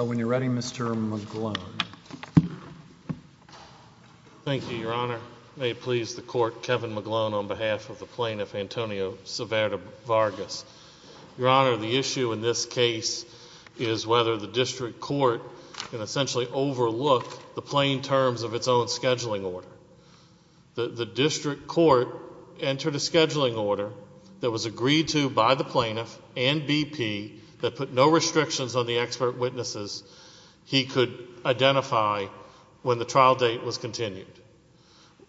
When you're ready, Mr. McGlone. Thank you, Your Honor. May it please the Court, Kevin McGlone on behalf of the plaintiff, Antonio Saavedra-Vargas. Your Honor, the issue in this case is whether the district court can essentially overlook the plain terms of its own scheduling order. The district court entered a scheduling order that was agreed to by the plaintiff and BP that put no restrictions on the expert witnesses he could identify when the trial date was continued.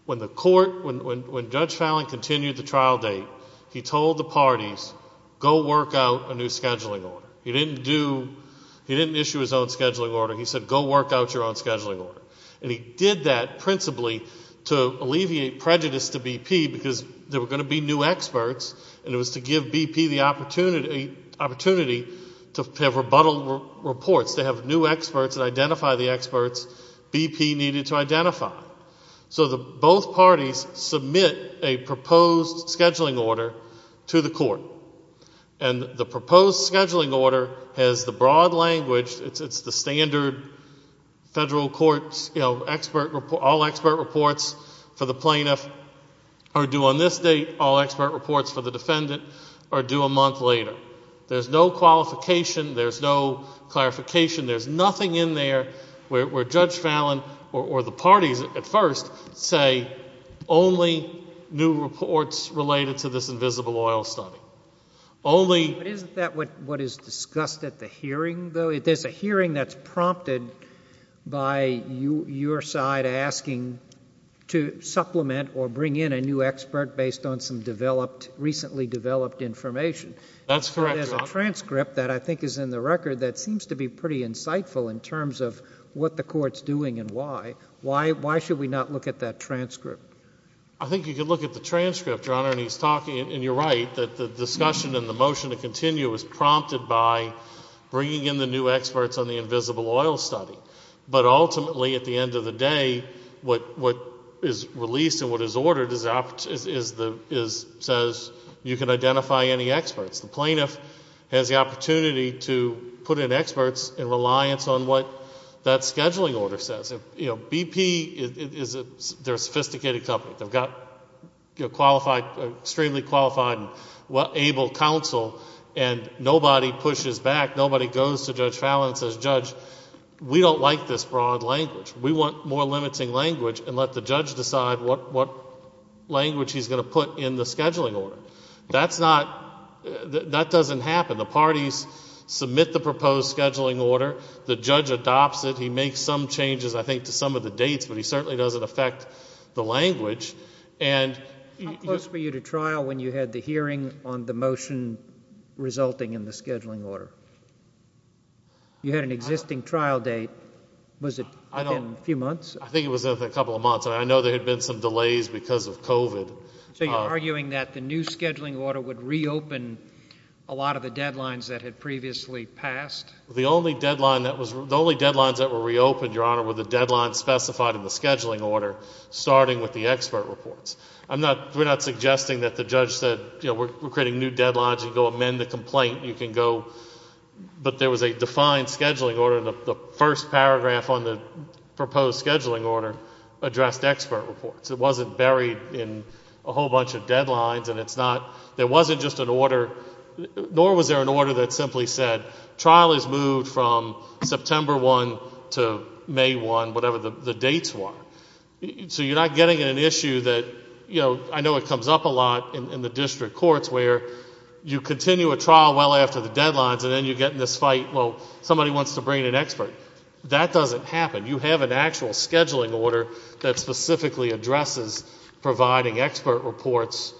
When Judge Fallin continued the trial date, he told the parties, go work out a new scheduling order. He didn't issue his own scheduling order. He said, go work out your own scheduling order. And he did that principally to alleviate prejudice to BP because there were going to be new experts and it was to give BP the opportunity to have rebuttal reports, to have new experts that BP needed to identify. So both parties submit a proposed scheduling order to the court. And the proposed scheduling order has the broad language, it's the standard federal court, you know, all expert reports for the plaintiff are due on this date, all expert reports for the defendant are due a month later. There's no qualification. There's no clarification. There's nothing in there where Judge Fallin or the parties at first say only new reports related to this invisible oil study, only... But isn't that what is discussed at the hearing, though? There's a hearing that's prompted by your side asking to supplement or bring in a new expert based on some developed, recently developed information. That's correct, Your Honor. There's a transcript that I think is in the record that seems to be pretty insightful in terms of what the court's doing and why. Why should we not look at that transcript? I think you can look at the transcript, Your Honor, and he's talking, and you're right, that the discussion and the motion to continue is prompted by bringing in the new experts on the invisible oil study. But ultimately, at the end of the day, what is released and what is ordered says you can identify any experts. The plaintiff has the opportunity to put in experts in reliance on what that scheduling order says. BP, they're a sophisticated company. They've got extremely qualified and able counsel, and nobody pushes back. Nobody goes to Judge Fallin and says, Judge, we don't like this broad language. We want more limiting language, and let the judge decide what language he's going to put in the scheduling order. That's not, that doesn't happen. The parties submit the proposed scheduling order. The judge adopts it. He makes some changes, I think, to some of the dates, but he certainly doesn't affect the language. And... How close were you to trial when you had the hearing on the motion resulting in the scheduling order? You had an existing trial date. Was it within a few months? I think it was within a couple of months, and I know there had been some delays because of COVID. So you're arguing that the new scheduling order would reopen a lot of the deadlines that had previously passed? The only deadline that was, the only deadlines that were reopened, Your Honor, were the deadlines specified in the scheduling order, starting with the expert reports. I'm not, we're not suggesting that the judge said, you know, we're creating new deadlines, you can go amend the complaint, you can go... but there was a defined scheduling order and the first paragraph on the proposed scheduling order addressed expert reports. It wasn't buried in a whole bunch of deadlines and it's not, there wasn't just an order, nor was there an order that simply said, trial is moved from September 1 to May 1, whatever the dates were. So you're not getting an issue that, you know, I know it comes up a lot in the district courts where you continue a trial well after the deadlines and then you get in this fight, well, somebody wants to bring in an expert. That doesn't happen. You have an actual scheduling order that specifically addresses providing expert reports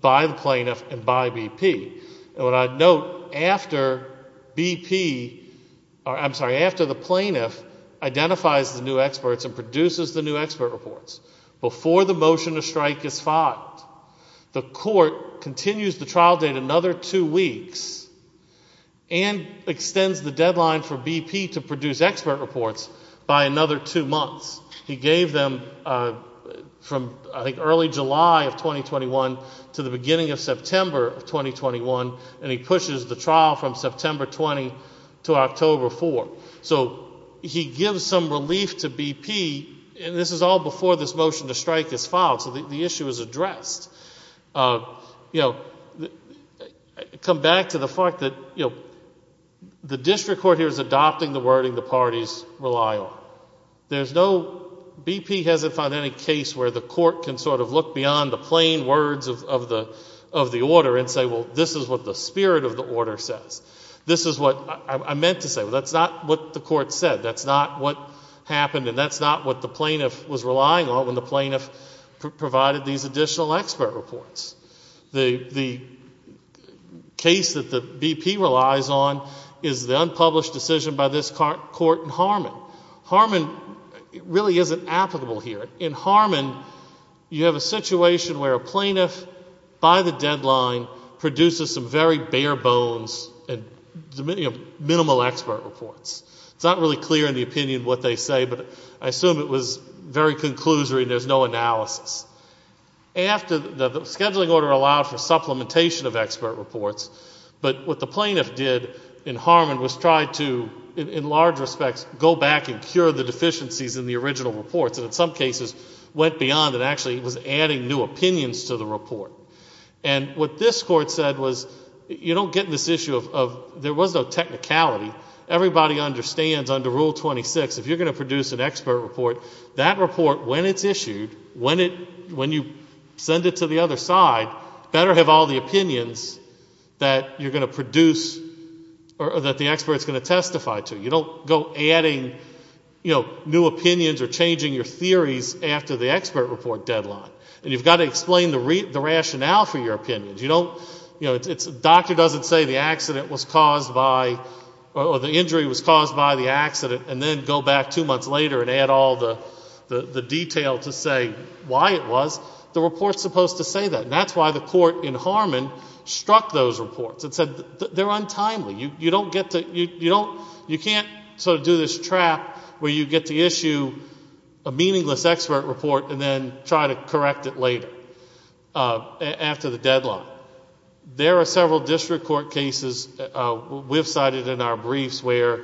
by the plaintiff and by BP. And what I'd note, after BP, I'm sorry, after the plaintiff identifies the new experts and produces the new expert reports, before the motion to strike is filed, the court continues the trial date another two weeks and extends the deadline for BP to produce expert reports by another two months. He gave them from, I think, early July of 2021 to the beginning of September of 2021 and he pushes the trial from September 20 to October 4. So he gives some relief to BP, and this is all before this motion to strike is filed, so the issue is addressed. You know, come back to the fact that, you know, the district court here is adopting the wording the parties rely on. There's no, BP hasn't found any case where the court can sort of look beyond the plain words of the order and say, well, this is what the spirit of the order says. This is what I meant to say. That's not what the court said. That's not what happened and that's not what the plaintiff was relying on when the plaintiff provided these additional expert reports. The case that the BP relies on is the unpublished decision by this court in Harmon. Harmon really isn't applicable here. In Harmon, you have a situation where a plaintiff, by the deadline, produces some very bare bones and minimal expert reports. It's not really clear in the opinion what they say, but I assume it was very conclusory and there's no analysis. After the scheduling order allowed for supplementation of expert reports, but what the plaintiff did in Harmon was try to, in large respects, go back and cure the deficiencies in the original reports, and in some cases, went beyond and actually was adding new opinions to the report. And what this court said was, you don't get this issue of, there was no technicality. Everybody understands under Rule 26, if you're going to produce an expert report, that report, when it's issued, when you send it to the other side, better have all the opinions that you're going to produce or that the expert's going to testify to. You don't go adding new opinions or changing your theories after the expert report deadline. And you've got to explain the rationale for your opinions. Doctor doesn't say the accident was caused by, or the injury was caused by the accident and then go back two months later and add all the detail to say why it was. The report's supposed to say that, and that's why the court in Harmon struck those reports and said, they're untimely. You can't sort of do this trap where you get to issue a meaningless expert report and then try to correct it later, after the deadline. There are several district court cases we've cited in our briefs where,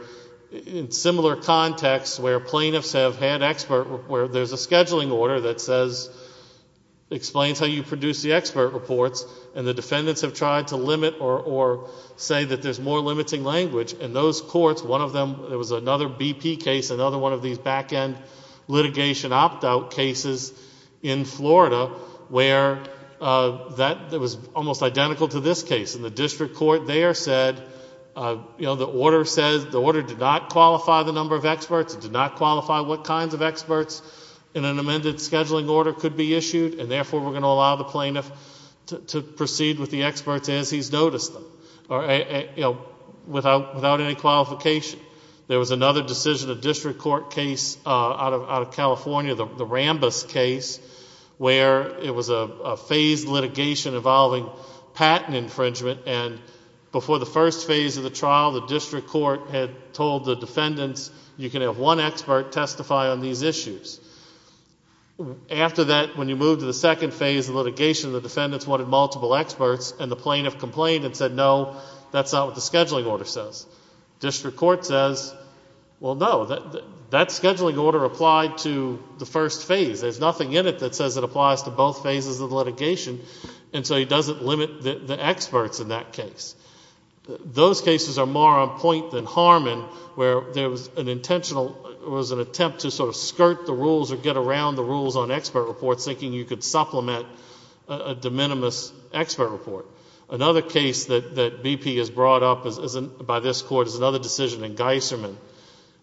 in similar contexts, where plaintiffs have had expert, where there's a scheduling order that says, explains how you produce the expert reports, and the defendants have tried to limit or say that there's more limiting language. In those courts, one of them, there was another BP case, another one of these back-end litigation opt-out cases in Florida where that was almost identical to this case. And the district court there said, you know, the order says, the order did not qualify the number of experts, it did not qualify what kinds of experts in an amended scheduling order could be issued, and therefore we're going to allow the plaintiff to proceed with the experts as he's noticed them, or, you know, without any qualification. There was another decision, a district court case out of California, the Rambus case, where it was a phased litigation involving patent infringement, and before the first phase of the trial, the district court had told the defendants, you can have one expert testify on these issues. After that, when you move to the second phase of litigation, the defendants wanted multiple experts and the plaintiff complained and said, no, that's not what the scheduling order says. District court says, well, no, that scheduling order applied to the first phase. There's nothing in it that says it applies to both phases of litigation, and so he doesn't limit the experts in that case. Those cases are more on point than Harmon, where there was an intentional, it was an attempt to sort of skirt the rules or get around the rules on expert reports, thinking you could supplement a de minimis expert report. Another case that BP has brought up by this court is another decision in Geisserman.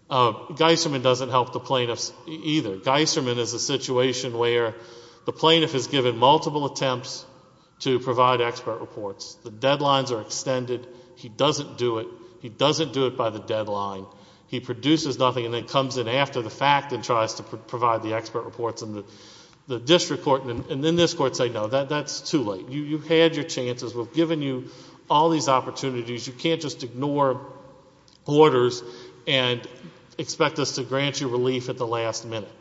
Geisserman doesn't help the plaintiffs either. Geisserman is a situation where the plaintiff is given multiple attempts to provide expert reports. The deadlines are extended. He doesn't do it. He doesn't do it by the deadline. He produces nothing and then comes in after the fact and tries to provide the expert reports in the district court, and then this court said, no, that's too late. You had your chances. We've given you all these opportunities. You can't just ignore orders and expect us to grant you relief at the last minute.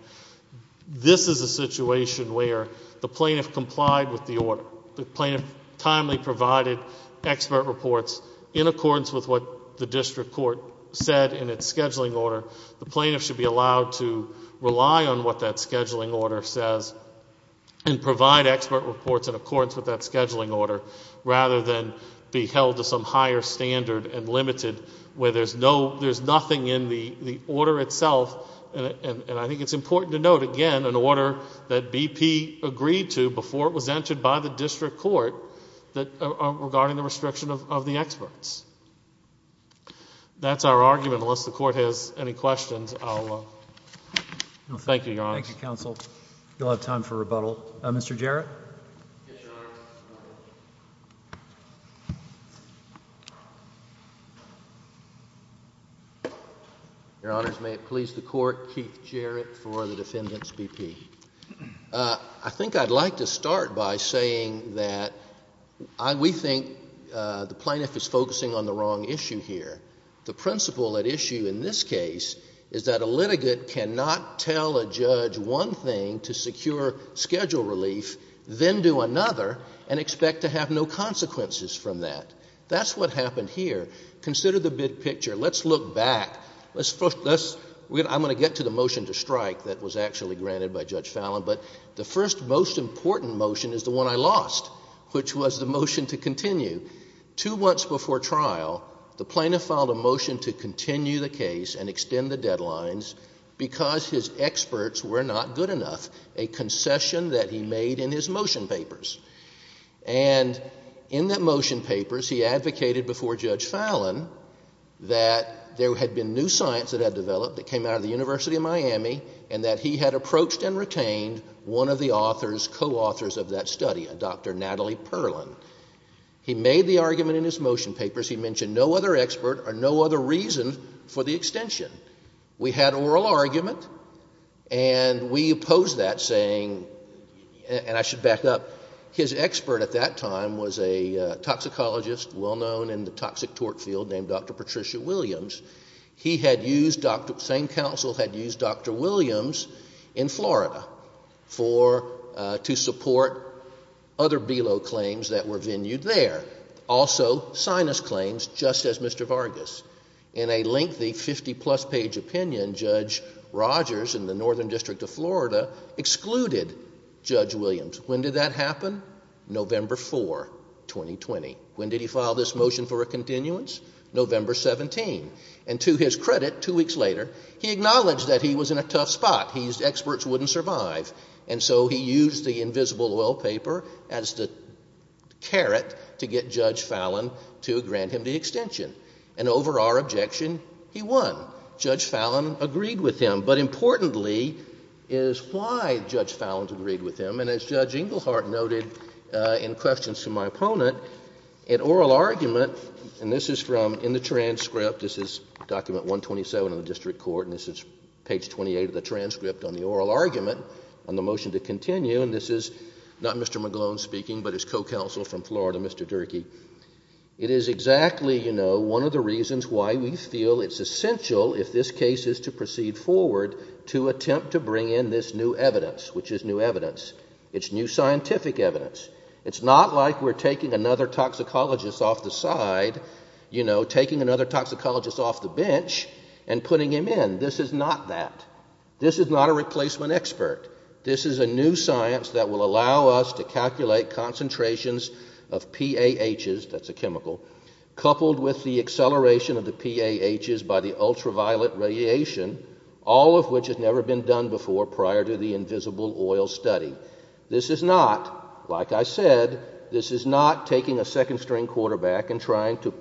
This is a situation where the plaintiff complied with the order. The plaintiff timely provided expert reports in accordance with what the district court said in its scheduling order. The plaintiff should be allowed to rely on what that scheduling order says and provide expert reports in accordance with that scheduling order, rather than be held to some higher standard and limited where there's nothing in the order itself. I think it's important to note, again, an order that BP agreed to before it was entered by the district court regarding the restriction of the experts. That's our argument. Unless the court has any questions, I'll thank you, Your Honor. Thank you, counsel. You'll have time for rebuttal. Mr. Jarrett? Yes, Your Honor. Your Honors, may it please the Court, Keith Jarrett for the Defendant's BP. I think I'd like to start by saying that we think the plaintiff is focusing on the wrong issue here. The principle at issue in this case is that a litigant cannot tell a judge one thing to secure schedule relief, then do another, and expect to have no consequences from that. That's what happened here. Consider the big picture. Let's look back. I'm going to get to the motion to strike that was actually granted by Judge Fallin. But the first most important motion is the one I lost, which was the motion to continue. Two months before trial, the plaintiff filed a motion to continue the case and extend the concession that he made in his motion papers. And in the motion papers, he advocated before Judge Fallin that there had been new science that had developed that came out of the University of Miami and that he had approached and retained one of the authors, co-authors of that study, a Dr. Natalie Perlin. He made the argument in his motion papers, he mentioned no other expert or no other reason for the extension. We had oral argument, and we opposed that, saying, and I should back up, his expert at that time was a toxicologist well-known in the toxic tort field named Dr. Patricia Williams. He had used Dr. — same counsel had used Dr. Williams in Florida for — to support other BELO claims that were venued there, also sinus claims, just as Mr. Vargas. In a lengthy 50-plus page opinion, Judge Rogers in the Northern District of Florida excluded Judge Williams. When did that happen? November 4, 2020. When did he file this motion for a continuance? November 17. And to his credit, two weeks later, he acknowledged that he was in a tough spot. His experts wouldn't survive. And so he used the invisible oil paper as the carrot to get Judge Fallin to grant him the extension. And over our objection, he won. Judge Fallin agreed with him. But importantly is why Judge Fallin agreed with him. And as Judge Engelhardt noted in questions to my opponent, an oral argument — and this is from — in the transcript, this is document 127 of the district court, and this is page 28 of the transcript on the oral argument on the motion to continue, and this is not Mr. McGlone speaking, but his co-counsel from Florida, Mr. Durkee. It is exactly, you know, one of the reasons why we feel it's essential, if this case is to proceed forward, to attempt to bring in this new evidence, which is new evidence. It's new scientific evidence. It's not like we're taking another toxicologist off the side, you know, taking another toxicologist off the bench and putting him in. This is not that. This is not a replacement expert. This is a new science that will allow us to calculate concentrations of PAHs — that's a chemical — coupled with the acceleration of the PAHs by the ultraviolet radiation, all of which has never been done before prior to the invisible oil study. This is not, like I said, this is not taking a second-string quarterback and trying to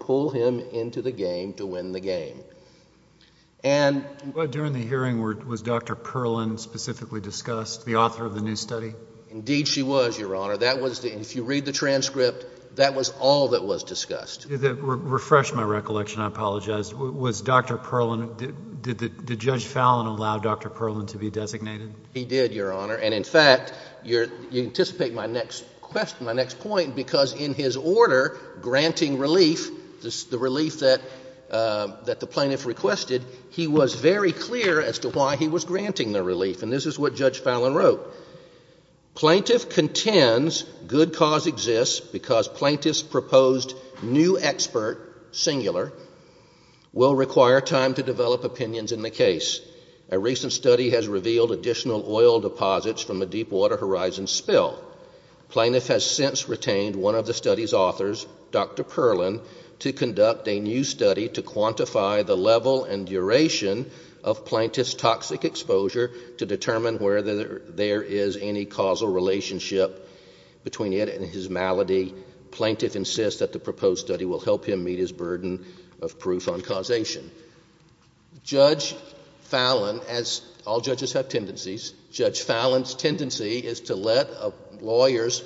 And during the hearing, was Dr. Perlin specifically discussed, the author of the new study? Indeed, she was, Your Honor. That was — if you read the transcript, that was all that was discussed. To refresh my recollection, I apologize, was Dr. Perlin — did Judge Fallon allow Dr. Perlin to be designated? He did, Your Honor, and in fact, you anticipate my next question, my next point, because in his order granting relief, the relief that the plaintiff requested, he was very clear as to why he was granting the relief. And this is what Judge Fallon wrote. Plaintiff contends good cause exists because plaintiff's proposed new expert, singular, will require time to develop opinions in the case. A recent study has revealed additional oil deposits from a Deepwater Horizon spill. Plaintiff has since retained one of the study's authors, Dr. Perlin, to conduct a new study to quantify the level and duration of plaintiff's toxic exposure to determine whether there is any causal relationship between it and his malady. Plaintiff insists that the proposed study will help him meet his burden of proof on causation. Judge Fallon, as all judges have tendencies, Judge Fallon's tendency is to let lawyers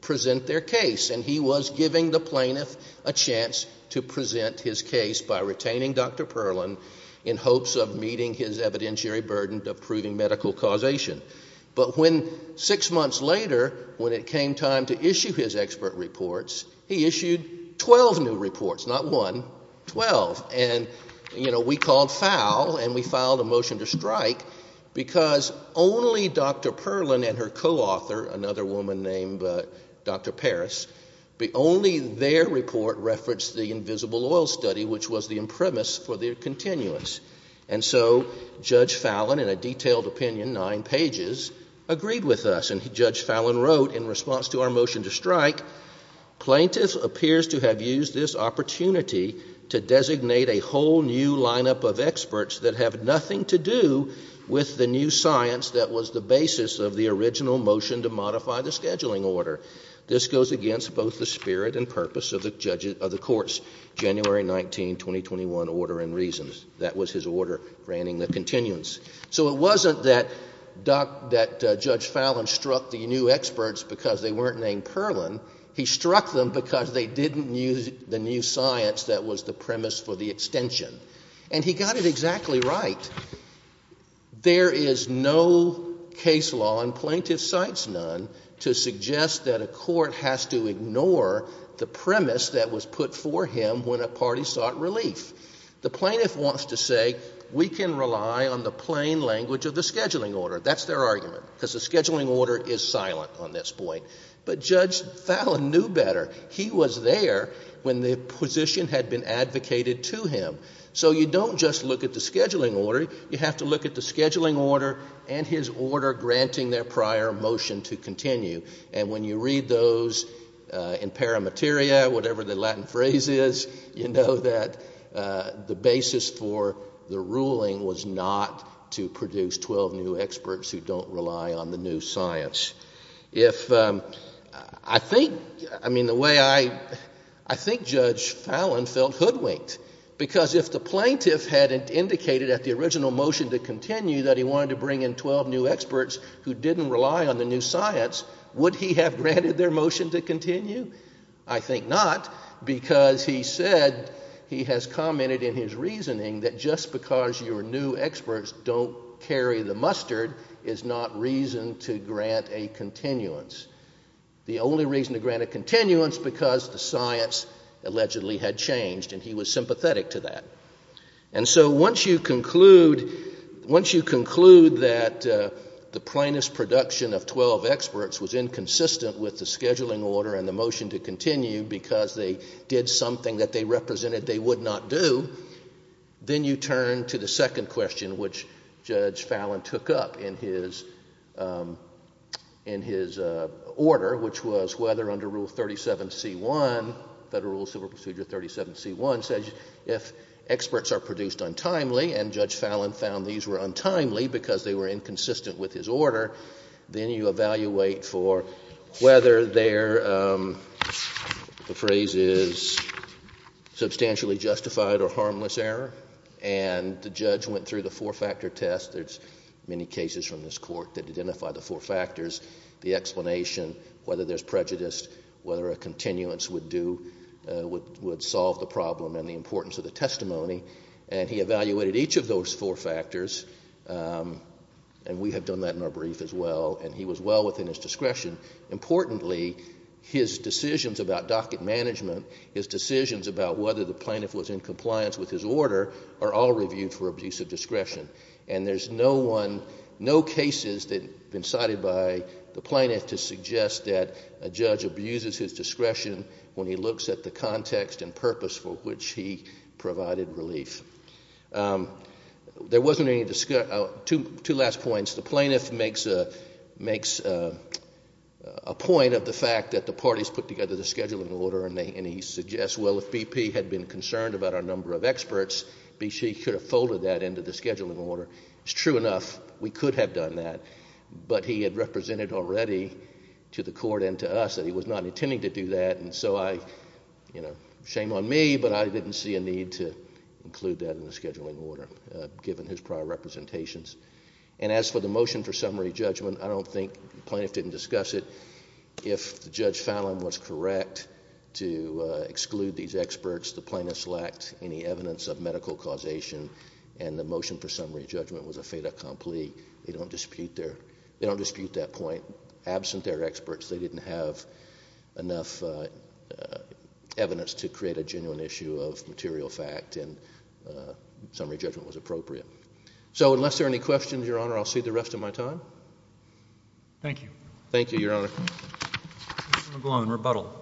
present their case. And he was giving the plaintiff a chance to present his case by retaining Dr. Perlin in hopes of meeting his evidentiary burden of proving medical causation. But when six months later, when it came time to issue his expert reports, he issued 12 new reports, not one, 12. And, you know, we called foul and we filed a motion to strike because only Dr. Perlin and her co-author, another woman named Dr. Parris, only their report referenced the invisible oil study, which was the impremise for their continuance. And so Judge Fallon, in a detailed opinion, nine pages, agreed with us. And Judge Fallon wrote in response to our motion to strike, plaintiff appears to have used this opportunity to designate a whole new lineup of experts that have nothing to do with the new science that was the basis of the original motion to modify the scheduling order. This goes against both the spirit and purpose of the court's January 19, 2021 order and reasons. That was his order granting the continuance. So it wasn't that that Judge Fallon struck the new experts because they weren't named Perlin. He struck them because they didn't use the new science that was the premise for the extension. And he got it exactly right. There is no case law, and plaintiff cites none, to suggest that a court has to ignore the premise that was put for him when a party sought relief. The plaintiff wants to say we can rely on the plain language of the scheduling order. That's their argument, because the scheduling order is silent on this point. But Judge Fallon knew better. He was there when the position had been advocated to him. So you don't just look at the scheduling order. You have to look at the scheduling order and his order granting their prior motion to continue. And when you read those in paramateria, whatever the Latin phrase is, you know that the basis for the ruling was not to produce 12 new experts who don't rely on the new science. If—I think—I mean, the way I—I think Judge Fallon felt hoodwinked, because if the plaintiff had indicated at the original motion to continue that he wanted to bring in 12 new experts who didn't rely on the new science, would he have granted their motion to continue? I think not, because he said—he has commented in his reasoning that just because your new science doesn't rely on the new science doesn't mean that you have to grant a continuance. The only reason to grant a continuance, because the science allegedly had changed, and he was sympathetic to that. And so once you conclude—once you conclude that the plaintiff's production of 12 experts was inconsistent with the scheduling order and the motion to continue because they did something that they represented they would not do, then you turn to the second in his order, which was whether under Rule 37c1—Federal Civil Procedure 37c1—says if experts are produced untimely, and Judge Fallon found these were untimely because they were inconsistent with his order, then you evaluate for whether their—the phrase is substantially justified or harmless error. And the judge went through the four-factor test. There's many cases from this Court that identify the four factors, the explanation, whether there's prejudice, whether a continuance would do—would solve the problem and the importance of the testimony. And he evaluated each of those four factors, and we have done that in our brief as well, and he was well within his discretion. Importantly, his decisions about docket management, his decisions about whether the plaintiff And there's no one—no cases that have been cited by the plaintiff to suggest that a judge abuses his discretion when he looks at the context and purpose for which he provided relief. There wasn't any—two last points. The plaintiff makes a point of the fact that the parties put together the scheduling order, and he suggests, well, if BP had been concerned about our number of experts, B.C. could have folded that into the scheduling order. It's true enough. We could have done that, but he had represented already to the Court and to us that he was not intending to do that, and so I—you know, shame on me, but I didn't see a need to include that in the scheduling order, given his prior representations. And as for the motion for summary judgment, I don't think the plaintiff didn't discuss it. If Judge Fallin was correct to exclude these experts, the plaintiffs lacked any evidence of medical causation, and the motion for summary judgment was a fait accompli. They don't dispute their—they don't dispute that point. Absent their experts, they didn't have enough evidence to create a genuine issue of material fact, and summary judgment was appropriate. So unless there are any questions, Your Honor, I'll cede the rest of my time. Thank you, Your Honor. Mr. McGloin, rebuttal.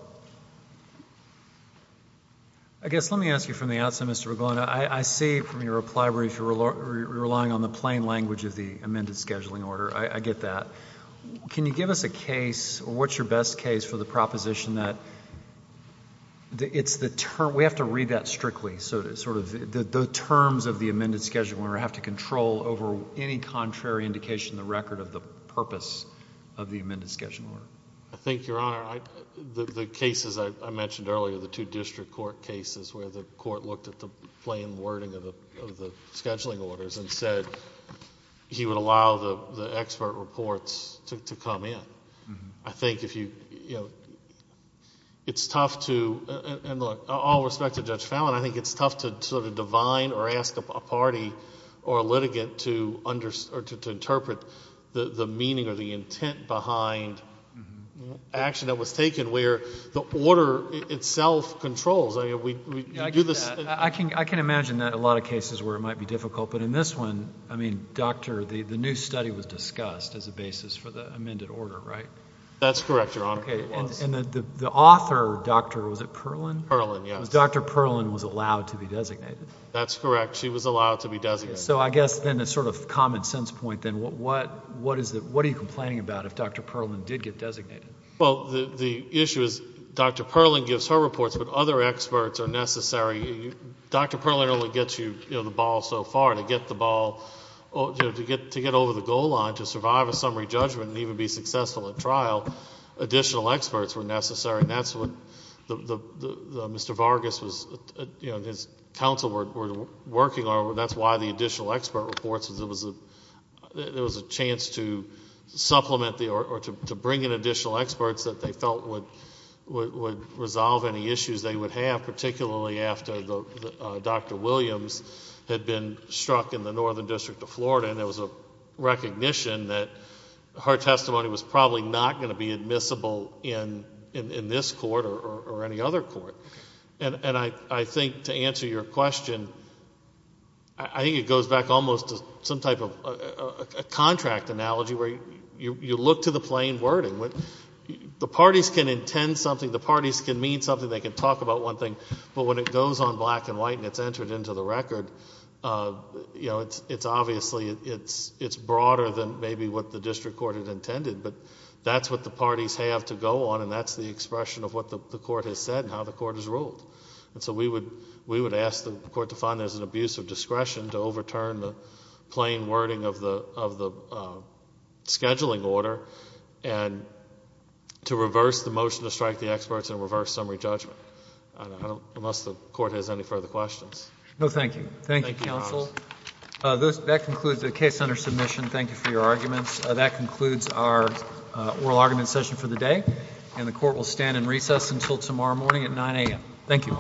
I guess let me ask you from the outset, Mr. McGloin. I see from your reply where you're relying on the plain language of the amended scheduling order. I get that. Can you give us a case, or what's your best case, for the proposition that it's the—we have to read that strictly, so to—sort of the terms of the amended scheduling order have to control over any contrary indication in the record of the purpose of the amended scheduling order? The cases I mentioned earlier, the two district court cases where the court looked at the plain wording of the scheduling orders and said he would allow the expert reports to come in. I think if you—it's tough to—and look, all respect to Judge Fallin, I think it's tough to sort of divine or ask a party or a litigant to interpret the meaning or the order itself controls. I mean, we do this— I can imagine that a lot of cases where it might be difficult, but in this one, I mean, Doctor, the new study was discussed as a basis for the amended order, right? That's correct, Your Honor, it was. And the author, Doctor, was it Perlin? Perlin, yes. Dr. Perlin was allowed to be designated. That's correct. She was allowed to be designated. So I guess then a sort of common sense point then, what are you complaining about if Dr. Perlin did get designated? Well, the issue is Dr. Perlin gives her reports, but other experts are necessary. Dr. Perlin only gets you the ball so far. To get the ball—to get over the goal line, to survive a summary judgment and even be successful at trial, additional experts were necessary. And that's what Mr. Vargas was—his counsel were working on, that's why the additional experts that they felt would resolve any issues they would have, particularly after Dr. Williams had been struck in the Northern District of Florida and there was a recognition that her testimony was probably not going to be admissible in this court or any other court. And I think to answer your question, I think it goes back almost to some type of a plain wording. The parties can intend something, the parties can mean something, they can talk about one thing, but when it goes on black and white and it's entered into the record, you know, it's obviously—it's broader than maybe what the district court had intended. But that's what the parties have to go on and that's the expression of what the court has said and how the court has ruled. And so we would ask the court to find there's an abuse of discretion to overturn the scheduling order and to reverse the motion to strike the experts and reverse summary judgment. Unless the court has any further questions. No, thank you. Thank you, counsel. That concludes the case under submission. Thank you for your arguments. That concludes our oral argument session for the day. And the court will stand in recess until tomorrow morning at 9 a.m. Thank you.